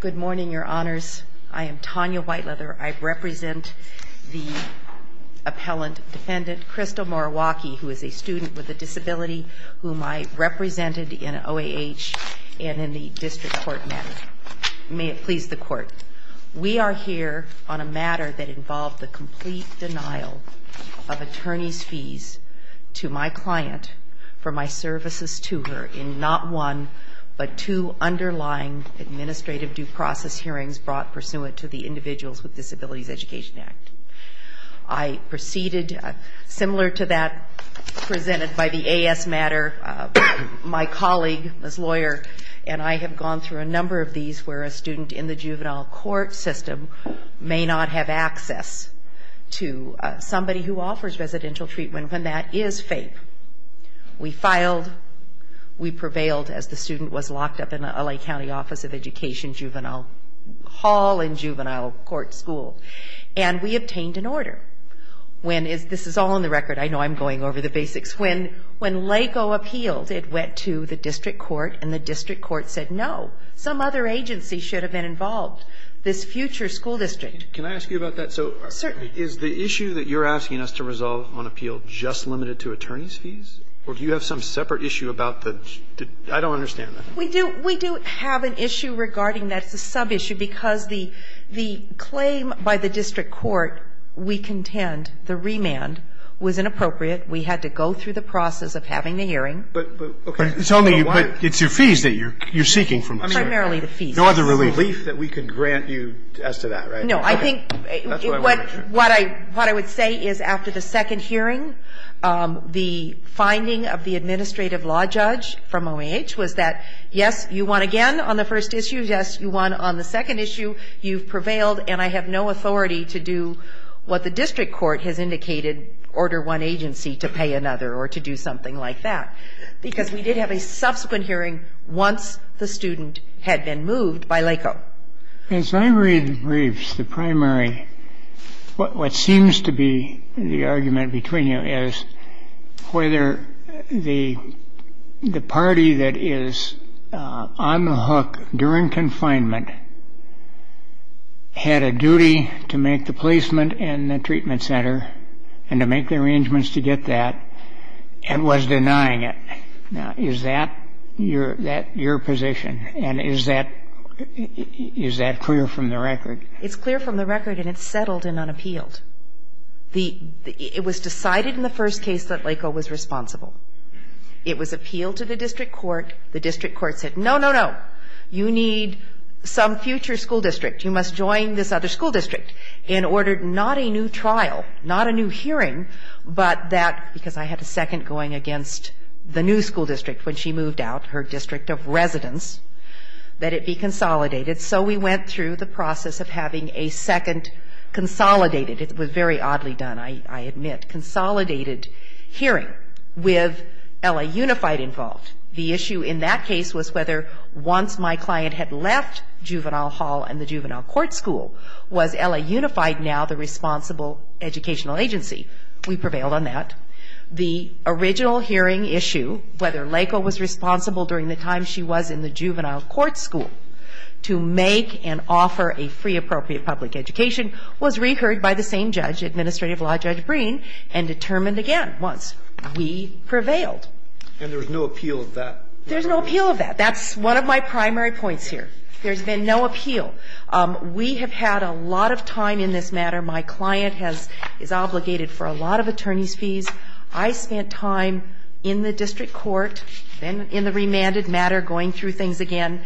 Good morning, your honors. I am Tanya Whiteleather. I represent the appellant defendant, Crystal Moriwaki, who is a student with a disability whom I represented in OAH and in the district court matter. May it please the court, we are here on a matter that involved the complete denial of attorney's fees to my client for my services to her in not one, but two underlying administrative due process hearings brought pursuant to the Individuals with Disabilities Education Act. I proceeded, similar to that presented by the A.S. matter, my colleague, Ms. Lawyer, and I have gone through a number of these where a student in the juvenile court system may not have access to somebody who offers residential treatment when that is required. We filed, we prevailed as the student was locked up in an L.A. County Office of Education juvenile hall and juvenile court school, and we obtained an order. This is all on the record. I know I am going over the basics. When LACO appealed, it went to the district court, and the district court said, no, some other agency should have been involved, this future school district. Can I ask you about that? Certainly. So is the issue that you are asking us to resolve on appeal just limited to attorney's separate issue about the – I don't understand that. We do have an issue regarding that. It's a sub-issue, because the claim by the district court, we contend the remand was inappropriate. We had to go through the process of having the hearing. But, okay. But it's only – it's your fees that you are seeking from us. Primarily the fees. Nor the relief. The relief that we can grant you as to that, right? No. I think what I would say is, after the second hearing, the finding of the administrative law judge from OAH was that, yes, you won again on the first issue, yes, you won on the second issue, you've prevailed, and I have no authority to do what the district court has indicated, order one agency to pay another or to do something like that. Because we did have a subsequent hearing once the student had been moved by LACO. As I read the briefs, the primary – what seems to be the argument between you is whether the party that is on the hook during confinement had a duty to make the placement in the treatment center and to make the arrangements to get that and was denying it. Now, is that your position? And is that clear from the record? It's clear from the record and it's settled and unappealed. It was decided in the first case that LACO was responsible. It was appealed to the district court. The district court said, no, no, no, you need some future school district. You must join this other school district in order – not a new trial, not a new hearing, but that – because I had a second going against the new school district when she moved out, her district of residence – that it be consolidated. So we went through the process of having a second consolidated – it was very oddly done, I admit – consolidated hearing with LA Unified involved. The issue in that case was whether once my client had left Juvenile Hall and the Juvenile Court School, was LA Unified now the responsible educational agency? We prevailed on that. The original hearing issue, whether LACO was responsible during the time she was in the Juvenile Court School to make and offer a free appropriate public education, was reheard by the same judge, Administrative Law Judge Breen, and determined again once. We prevailed. And there was no appeal of that? There's no appeal of that. That's one of my primary points here. There's been no appeal. We have had a lot of time in this matter. My client has – is obligated for a lot of attorney's fees. I spent time in the district court, then in the remanded matter, going through things again,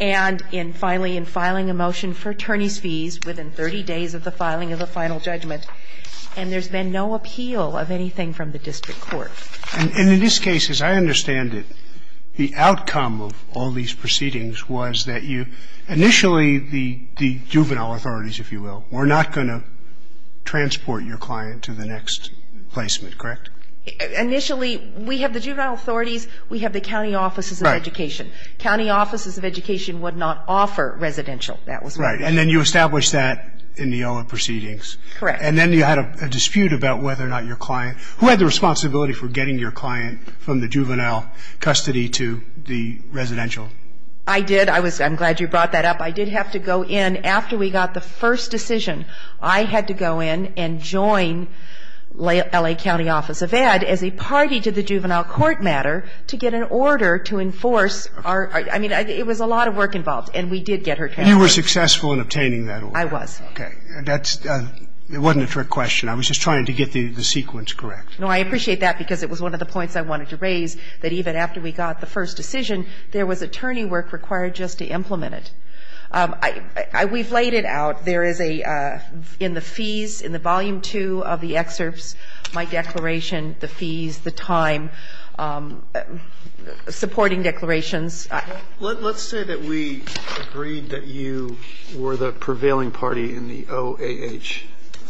and in finally in filing a motion for attorney's fees within 30 days of the filing of the final judgment. And there's been no appeal of anything from the district court. And in this case, as I understand it, the outcome of all these proceedings was that you – initially the juvenile authorities, if you will, were not going to transport your client to the next placement, correct? Initially, we have the juvenile authorities, we have the county offices of education. Right. County offices of education would not offer residential. That was my point. Right. And then you established that in the other proceedings. Correct. And then you had a dispute about whether or not your client – who had the responsibility for getting your client from the juvenile custody to the residential? I did. I was – I'm glad you brought that up. I did have to go in after we got the first decision. I had to go in and join L.A. County Office of Ed as a party to the juvenile court matter to get an order to enforce our – I mean, it was a lot of work involved. And we did get her custody. You were successful in obtaining that order. I was. Okay. That's – it wasn't a trick question. I was just trying to get the sequence correct. No, I appreciate that because it was one of the points I wanted to raise, that even after we got the first decision, there was attorney work required just to implement it. I – we've laid it out. There is a – in the fees, in the volume two of the excerpts, my declaration, the fees, the time, supporting declarations. Let's say that we agreed that you were the prevailing party in the OAH.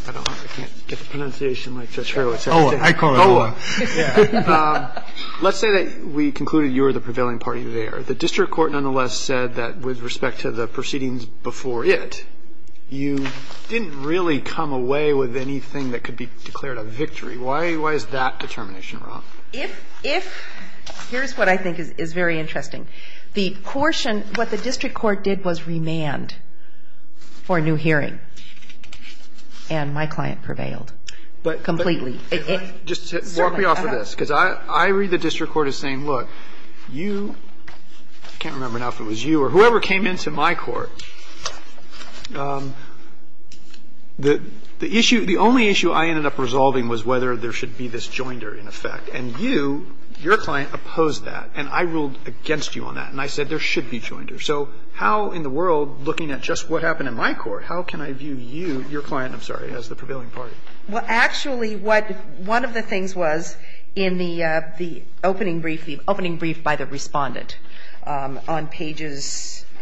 I don't know. I can't get the pronunciation right. OAH. I call it OAH. OAH. Yeah. Let's say that we concluded you were the prevailing party there. The district court nonetheless said that with respect to the proceedings before it, you didn't really come away with anything that could be declared a victory. Why is that determination wrong? If – here's what I think is very interesting. The portion – what the district court did was remand for a new hearing, and my client prevailed completely. But – just walk me off of this because I read the district court as saying, look, you – I can't remember now if it was you or whoever came into my court. The issue – the only issue I ended up resolving was whether there should be this And you, your client, opposed that. And I ruled against you on that. And I said there should be joinders. So how in the world, looking at just what happened in my court, how can I view you, your client, I'm sorry, as the prevailing party? Well, actually, what – one of the things was in the opening brief, the opening brief by the Respondent, on pages –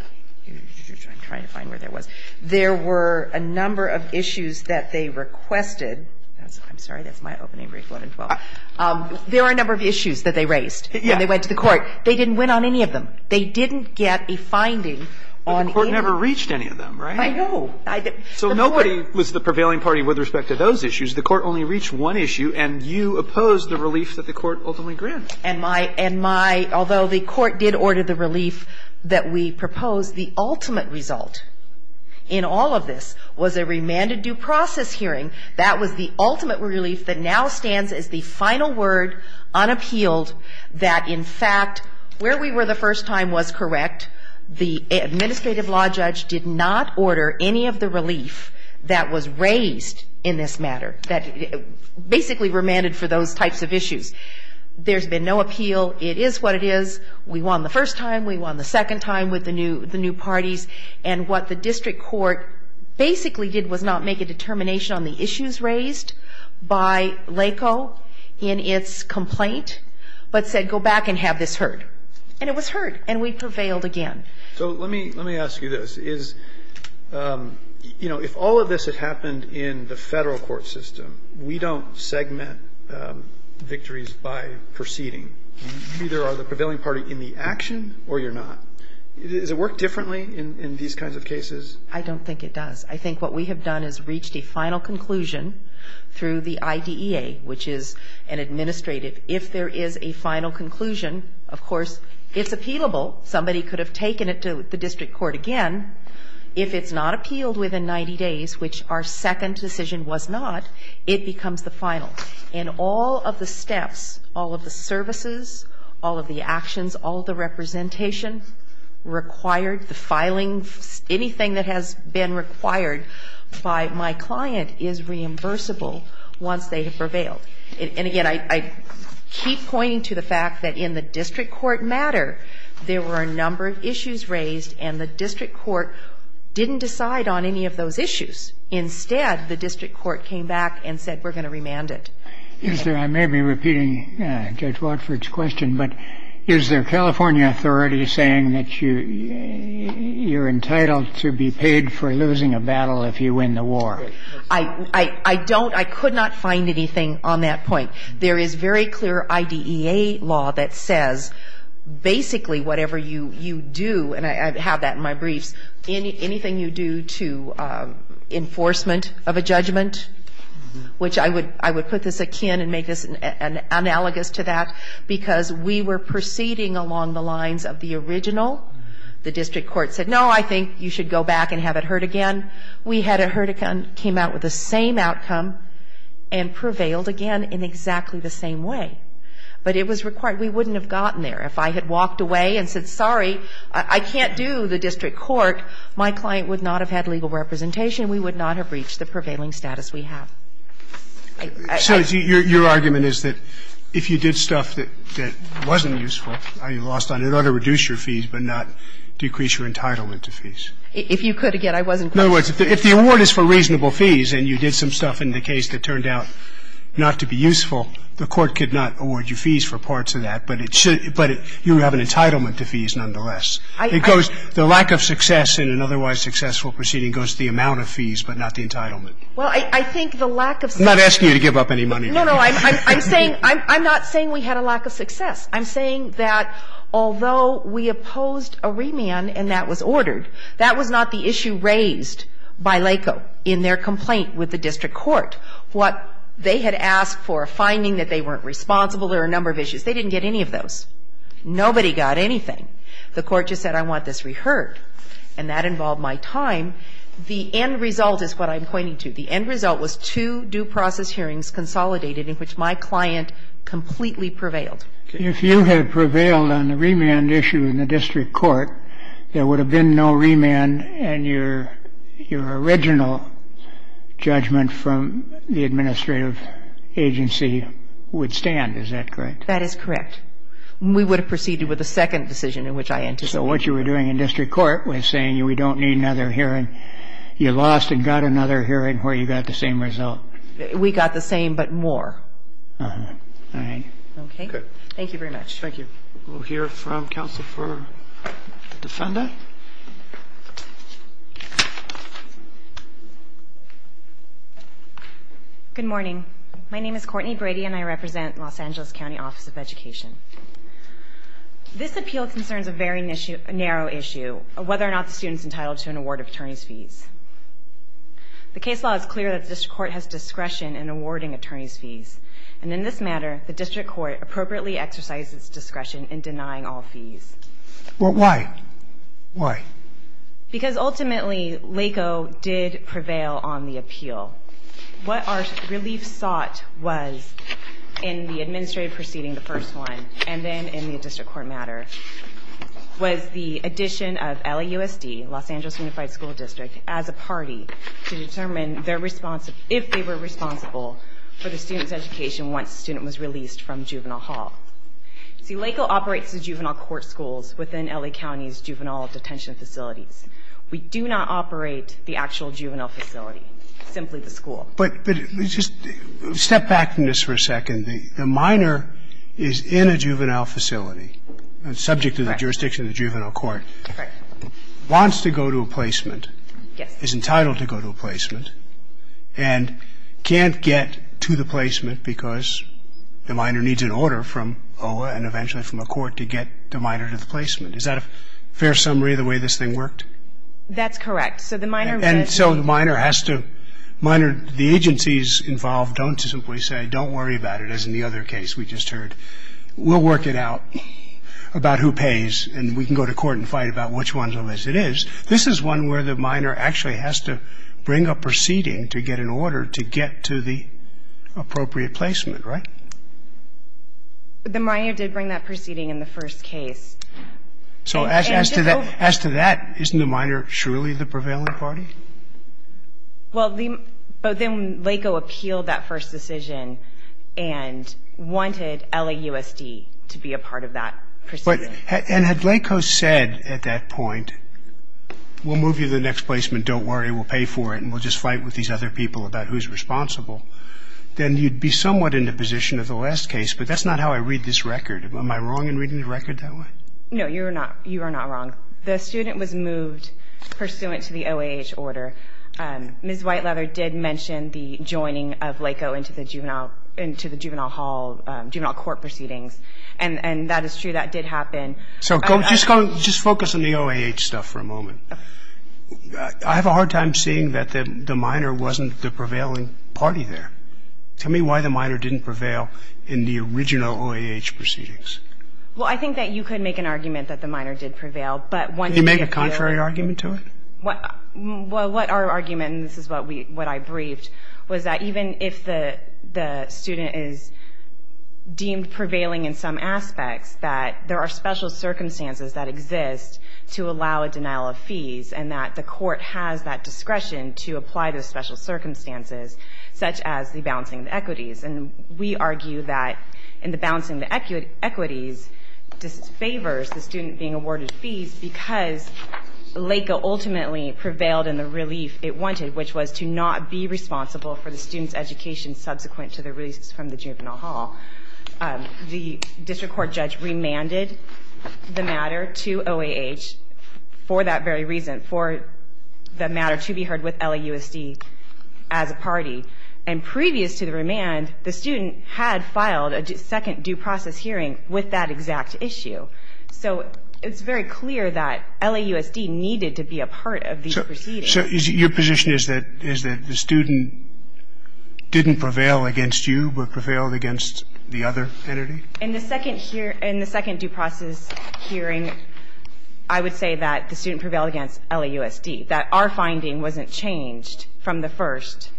I'm trying to find where that was. There were a number of issues that they requested – I'm sorry, that's my opening brief, 1 and 12. There are a number of issues that they raised when they went to the court. They didn't win on any of them. They didn't get a finding on any of them. But the court never reached any of them, right? I know. I didn't – So nobody was the prevailing party with respect to those issues. The court only reached one issue, and you opposed the relief that the court ultimately granted. And my – although the court did order the relief that we proposed, the ultimate result in all of this was a remanded due process hearing. That was the ultimate relief that now stands as the final word unappealed that, in fact, where we were the first time was correct. The administrative law judge did not order any of the relief that was raised in this matter, that basically remanded for those types of issues. There's been no appeal. It is what it is. We won the first time. We won the second time with the new parties. And what the district court basically did was not make a determination on the issues raised by LACO in its complaint, but said go back and have this heard. And it was heard. And we prevailed again. So let me – let me ask you this. Is – you know, if all of this had happened in the federal court system, we don't segment victories by proceeding. You either are the prevailing party in the action or you're not. Does it work differently in these kinds of cases? I don't think it does. I think what we have done is reached a final conclusion through the IDEA, which is an administrative. If there is a final conclusion, of course, it's appealable. Somebody could have taken it to the district court again. If it's not appealed within 90 days, which our second decision was not, it becomes the final. In all of the steps, all of the services, all of the actions, all of the representation required, the filing, anything that has been required by my client is reimbursable once they have prevailed. And again, I keep pointing to the fact that in the district court matter, there were a number of issues raised, and the district court didn't decide on any of those issues. Instead, the district court came back and said, we're going to remand it. I may be repeating Judge Watford's question, but is there California authority saying that you're entitled to be paid for losing a battle if you win the war? I don't. I could not find anything on that point. There is very clear IDEA law that says basically whatever you do, and I have that in my briefs, anything you do to enforcement of a judgment, which I would put this akin and make this analogous to that, because we were proceeding along the lines of the original. The district court said, no, I think you should go back and have it heard again. We had it heard again, came out with the same outcome, and prevailed again in exactly the same way. But it was required. We wouldn't have gotten there if I had walked away and said, sorry, I can't do the district court. My client would not have had legal representation. We would not have reached the prevailing status we have. So your argument is that if you did stuff that wasn't useful, I lost on it, it ought to reduce your fees, but not decrease your entitlement to fees? If you could again, I wasn't going to do it. In other words, if the award is for reasonable fees and you did some stuff in the case that turned out not to be useful, the court could not award you fees for parts of that, but it should – but you have an entitlement to fees nonetheless. It goes – the lack of success in an otherwise successful proceeding goes to the amount of fees, but not the entitlement. Well, I think the lack of success – I'm not asking you to give up any money. No, no. I'm saying – I'm not saying we had a lack of success. I'm saying that although we opposed a remand and that was ordered, that was not the issue raised by LACO in their complaint with the district court. What they had asked for, a finding that they weren't responsible, there were a number of issues. They didn't get any of those. Nobody got anything. The court just said, I want this reheard, and that involved my time. The end result is what I'm pointing to. The end result was two due process hearings consolidated in which my client completely prevailed. If you had prevailed on the remand issue in the district court, there would have been no remand and your original judgment from the administrative agency would stand. Is that correct? That is correct. We would have proceeded with a second decision in which I anticipated. What you were doing in district court was saying, we don't need another hearing. You lost and got another hearing where you got the same result. We got the same but more. Uh-huh. All right. Okay. Good. Thank you very much. Thank you. We'll hear from counsel for the defendant. Good morning. My name is Courtney Brady and I represent Los Angeles County Office of Education. This appeal concerns a very narrow issue of whether or not the student is entitled to an award of attorney's fees. The case law is clear that the district court has discretion in awarding attorney's fees, and in this matter, the district court appropriately exercises discretion in denying all fees. Why? Why? Because, ultimately, LACO did prevail on the appeal. What our relief sought was in the administrative proceeding, the first one, and then in the district court matter, was the addition of LAUSD, Los Angeles Unified School District, as a party to determine if they were responsible for the student's education once the student was released from juvenile hall. See, LACO operates the juvenile court schools within LA County's juvenile detention facilities. We do not operate the actual juvenile facility, simply the school. But just step back from this for a second. The minor is in a juvenile facility, subject to the jurisdiction of the juvenile court, wants to go to a placement, is entitled to go to a placement, and can't get to the placement because the minor needs an order from OLA and eventually from a court to get the minor to the placement. Is that a fair summary of the way this thing worked? That's correct. So the minor... And so the minor has to... The agencies involved don't simply say, don't worry about it, as in the other case we just heard. We'll work it out about who pays, and we can go to court and fight about which one it is. This is one where the minor actually has to bring a proceeding to get an order to get to the appropriate placement, right? The minor did bring that proceeding in the first case. So as to that, isn't the minor surely the prevailing party? Well, but then LACO appealed that first decision and wanted LAUSD to be a part of that proceeding. And had LACO said at that point, we'll move you to the next placement, don't worry, we'll pay for it, and we'll just fight with these other people about who's responsible, then you'd be somewhat in the position of the last case, but that's not how I read this record. Am I wrong in reading the record that way? No, you are not wrong. The student was moved pursuant to the OAH order. Ms. Whiteleather did mention the joining of LACO into the juvenile court proceedings, and that is true. So just focus on the OAH stuff for a moment. I have a hard time seeing that the minor wasn't the prevailing party there. Tell me why the minor didn't prevail in the original OAH proceedings. Well, I think that you could make an argument that the minor did prevail, but one could make a contrary argument to it. Well, what our argument, and this is what I briefed, was that even if the student is deemed prevailing in some aspects, that there are special circumstances that exist to allow a denial of fees, and that the court has that discretion to apply those special circumstances, such as the balancing of equities. And we argue that in the balancing of equities, this favors the student being awarded fees because LACO ultimately prevailed in the relief it wanted, which was to not be responsible for the student's education subsequent to the release from the juvenile hall. The district court judge remanded the matter to OAH for that very reason, for the matter to be heard with LAUSD as a party. And previous to the remand, the student had filed a second due process hearing with that exact issue. So it's very clear that LAUSD needed to be a part of these proceedings. So your position is that the student didn't prevail against you, but prevailed against the other entity? In the second due process hearing, I would say that the student prevailed against LAUSD, that our finding wasn't changed from the first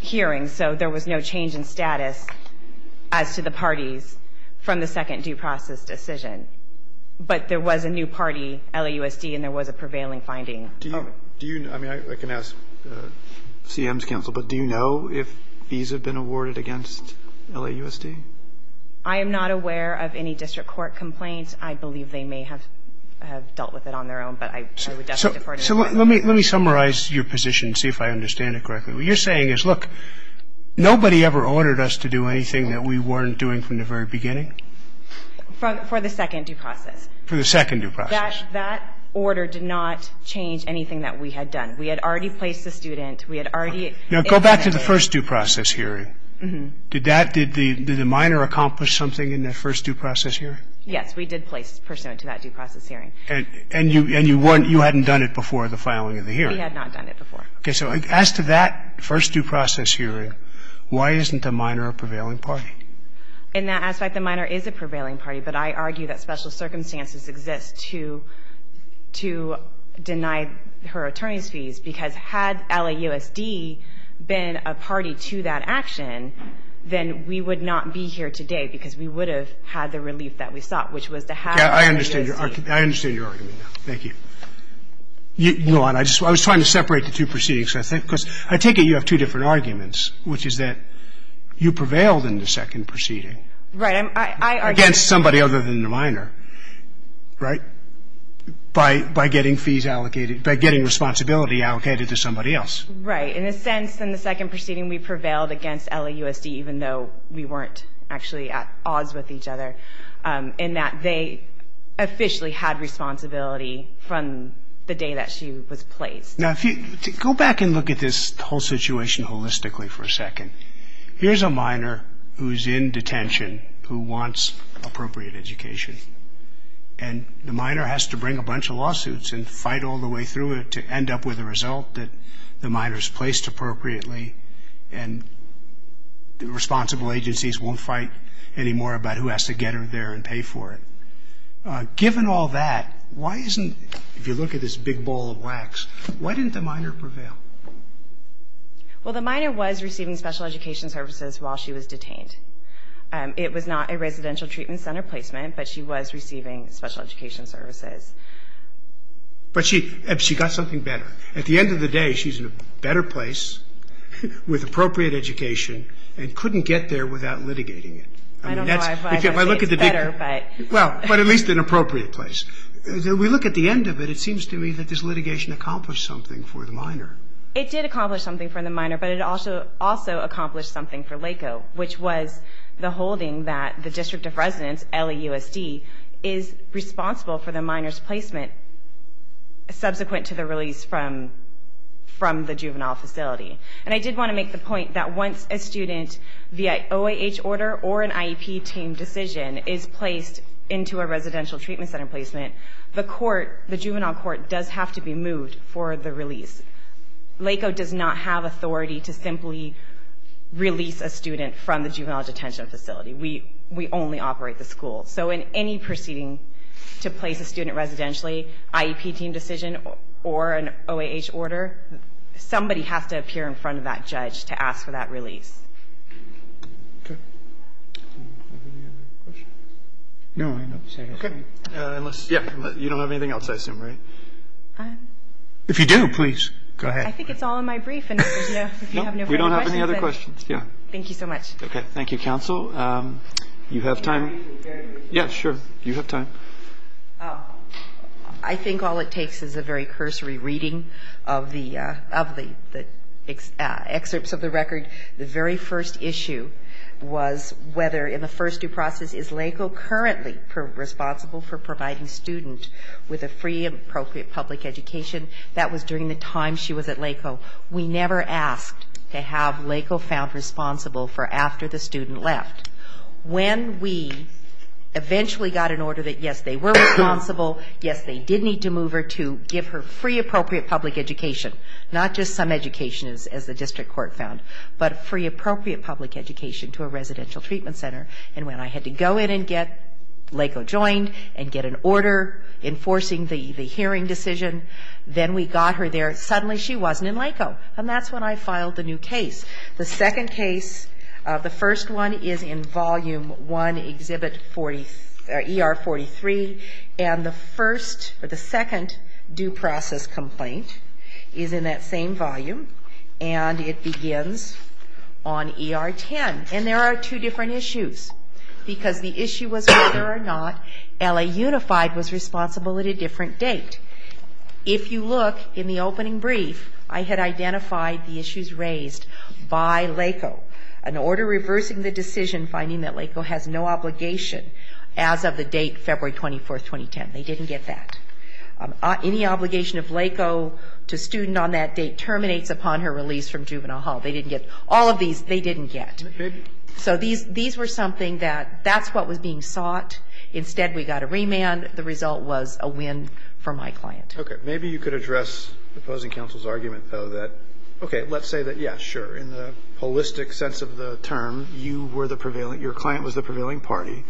hearing, so there was no change in status as to the parties from the second due process decision. But there was a new party, LAUSD, and there was a prevailing finding. Do you know, I mean, I can ask CM's counsel, but do you know if fees have been awarded against LAUSD? I am not aware of any district court complaints. I believe they may have dealt with it on their own, but I would definitely defer to them. So let me summarize your position and see if I understand it correctly. What you're saying is, look, nobody ever ordered us to do anything that we weren't doing from the very beginning? For the second due process. For the second due process. That order did not change anything that we had done. We had already placed the student. We had already implemented it. Now, go back to the first due process hearing. Did that – did the minor accomplish something in that first due process hearing? Yes, we did place pursuant to that due process hearing. And you weren't – you hadn't done it before the filing of the hearing? We had not done it before. Okay. So as to that first due process hearing, why isn't the minor a prevailing party? In that aspect, the minor is a prevailing party, but I argue that special circumstances exist to deny her attorney's fees, because had LAUSD been a party to that action, then we would not be here today, because we would have had the relief that we sought, which was to have LAUSD. I understand your argument. I understand your argument. Thank you. You know what? I just – I was trying to separate the two proceedings, because I take it you have two different arguments, which is that you prevailed in the second proceeding against somebody other than the minor, right, by getting fees allocated – by getting responsibility allocated to somebody else. Right. In a sense, in the second proceeding, we prevailed against LAUSD, even though we weren't actually at odds with each other, in that they officially had responsibility from the day that she was placed. Now, if you – go back and look at this whole situation holistically for a second. Here's a minor who's in detention who wants appropriate education, and the minor has to bring a bunch of lawsuits and fight all the way through it to end up with a result that the minor's placed appropriately, and the responsible agencies won't fight any more about who has to get her there and pay for it. Given all that, why isn't – if you look at this big ball of wax, why didn't the minor prevail? Well, the minor was receiving special education services while she was detained. It was not a residential treatment center placement, but she was receiving special education services. But she got something better. At the end of the day, she's in a better place with appropriate education and couldn't get there without litigating it. I don't know. I don't think it's better, but – Well, but at least an appropriate place. We look at the end of it, it seems to me that this litigation accomplished something for the minor. It did accomplish something for the minor, but it also accomplished something for LACO, which was the holding that the District of Residence, LAUSD, is responsible for the minor's placement subsequent to the release from the juvenile facility. And I did want to make the point that once a student via OAH order or an IEP team decision is placed into a residential treatment center placement, the court, the juvenile court does have to be moved for the release. LACO does not have authority to simply release a student from the juvenile detention facility. We only operate the school. So in any proceeding to place a student residentially, IEP team decision, or an OAH order, somebody has to appear in front of that judge to ask for that release. Okay. Do we have any other questions? No. Okay. Unless – Yeah. You don't have anything else, I assume, right? If you do, please. Go ahead. I think it's all in my brief. And if you have no further questions – No. We don't have any other questions. Yeah. Thank you so much. Okay. Thank you, counsel. You have time – Yeah, sure. You have time. I think all it takes is a very cursory reading of the excerpts of the record. The very first issue was whether in the first due process, is LACO currently responsible for providing student with a free, appropriate public education. That was during the time she was at LACO. We never asked to have LACO found responsible for after the student left. When we eventually got an order that, yes, they were responsible, yes, they did need to move her to give her free, appropriate public education – not just some education, as the district court found, but free, appropriate public education to a residential treatment center. And when I had to go in and get LACO joined and get an order enforcing the hearing decision, then we got her there. Suddenly, she wasn't in LACO. And that's when I filed the new case. The second case, the first one, is in Volume 1, Exhibit ER-43, and the first – the second due process complaint is in that same volume, and it begins on ER-10. And there are two different issues, because the issue was whether or not LA Unified was responsible at a different date. If you look in the opening brief, I had identified the issues raised by LACO. An order reversing the decision, finding that LACO has no obligation as of the date February 24, 2010. They didn't get that. Any obligation of LACO to student on that date terminates upon her release from juvenile hall. They didn't get all of these. They didn't get. So these were something that – that's what was being sought. Instead, we got a remand. The result was a win for my client. Okay. Maybe you could address the opposing counsel's argument, though, that – okay, let's say that, yeah, sure, in the holistic sense of the term, you were the prevailing – your client was the prevailing party.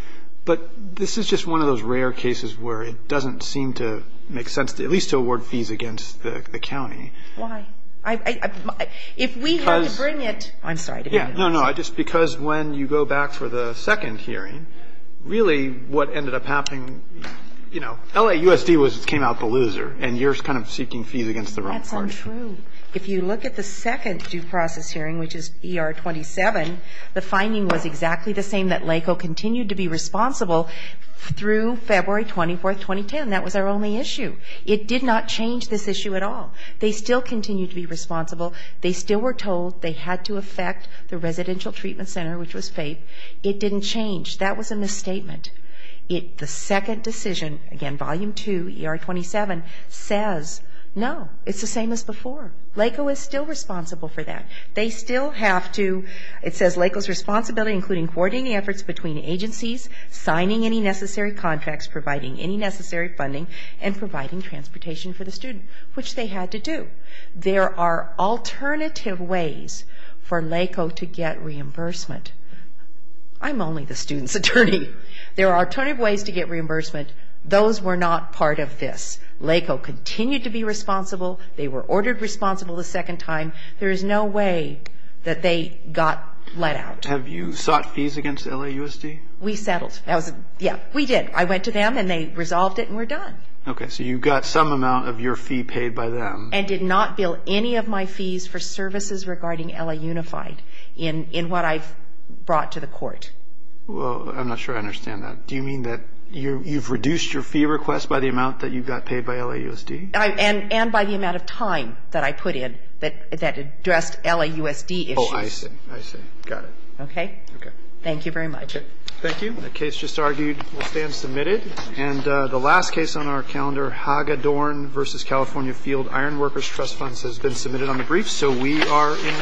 But this is just one of those rare cases where it doesn't seem to make sense, at least to award fees against the county. Why? I – if we had to bring it – I'm sorry. Yeah. No, no. I just – because when you go back for the second hearing, really what ended up happening – you know, LAUSD was – came out the loser, and you're kind of seeking fees against the wrong party. That's untrue. If you look at the second due process hearing, which is ER 27, the finding was exactly the same, that LACO continued to be responsible through February 24, 2010. That was our only issue. It did not change this issue at all. They still continued to be responsible. They still were told they had to affect the residential treatment center, which was FAPE. It didn't change. That was a misstatement. It – the second decision, again, Volume 2, ER 27, says, no, it's the same as before. LACO is still responsible for that. They still have to – it says LACO's responsibility including coordinating the efforts between agencies, signing any necessary contracts, providing any necessary funding, and providing transportation for the student, which they had to do. There are alternative ways for LACO to get reimbursement. I'm only the student's attorney. There are alternative ways to get reimbursement. Those were not part of this. LACO continued to be responsible. They were ordered responsible the second time. There is no way that they got let out. Have you sought fees against LAUSD? We settled. That was – yeah, we did. I went to them, and they resolved it, and we're done. Okay. So you got some amount of your fee paid by them. And did not bill any of my fees for services regarding LAUnified in what I've brought to the court. Well, I'm not sure I understand that. Do you mean that you've reduced your fee request by the amount that you got paid by LAUSD? I – and by the amount of time that I put in that addressed LAUSD issues. Oh, I see. I see. Got it. Okay? Okay. Thank you very much. Okay. Thank you. The case just argued will stand submitted. And the last case on our calendar, Hagedorn v. California Field Iron Workers Trust Funds has been submitted on the briefs. So we are in recess.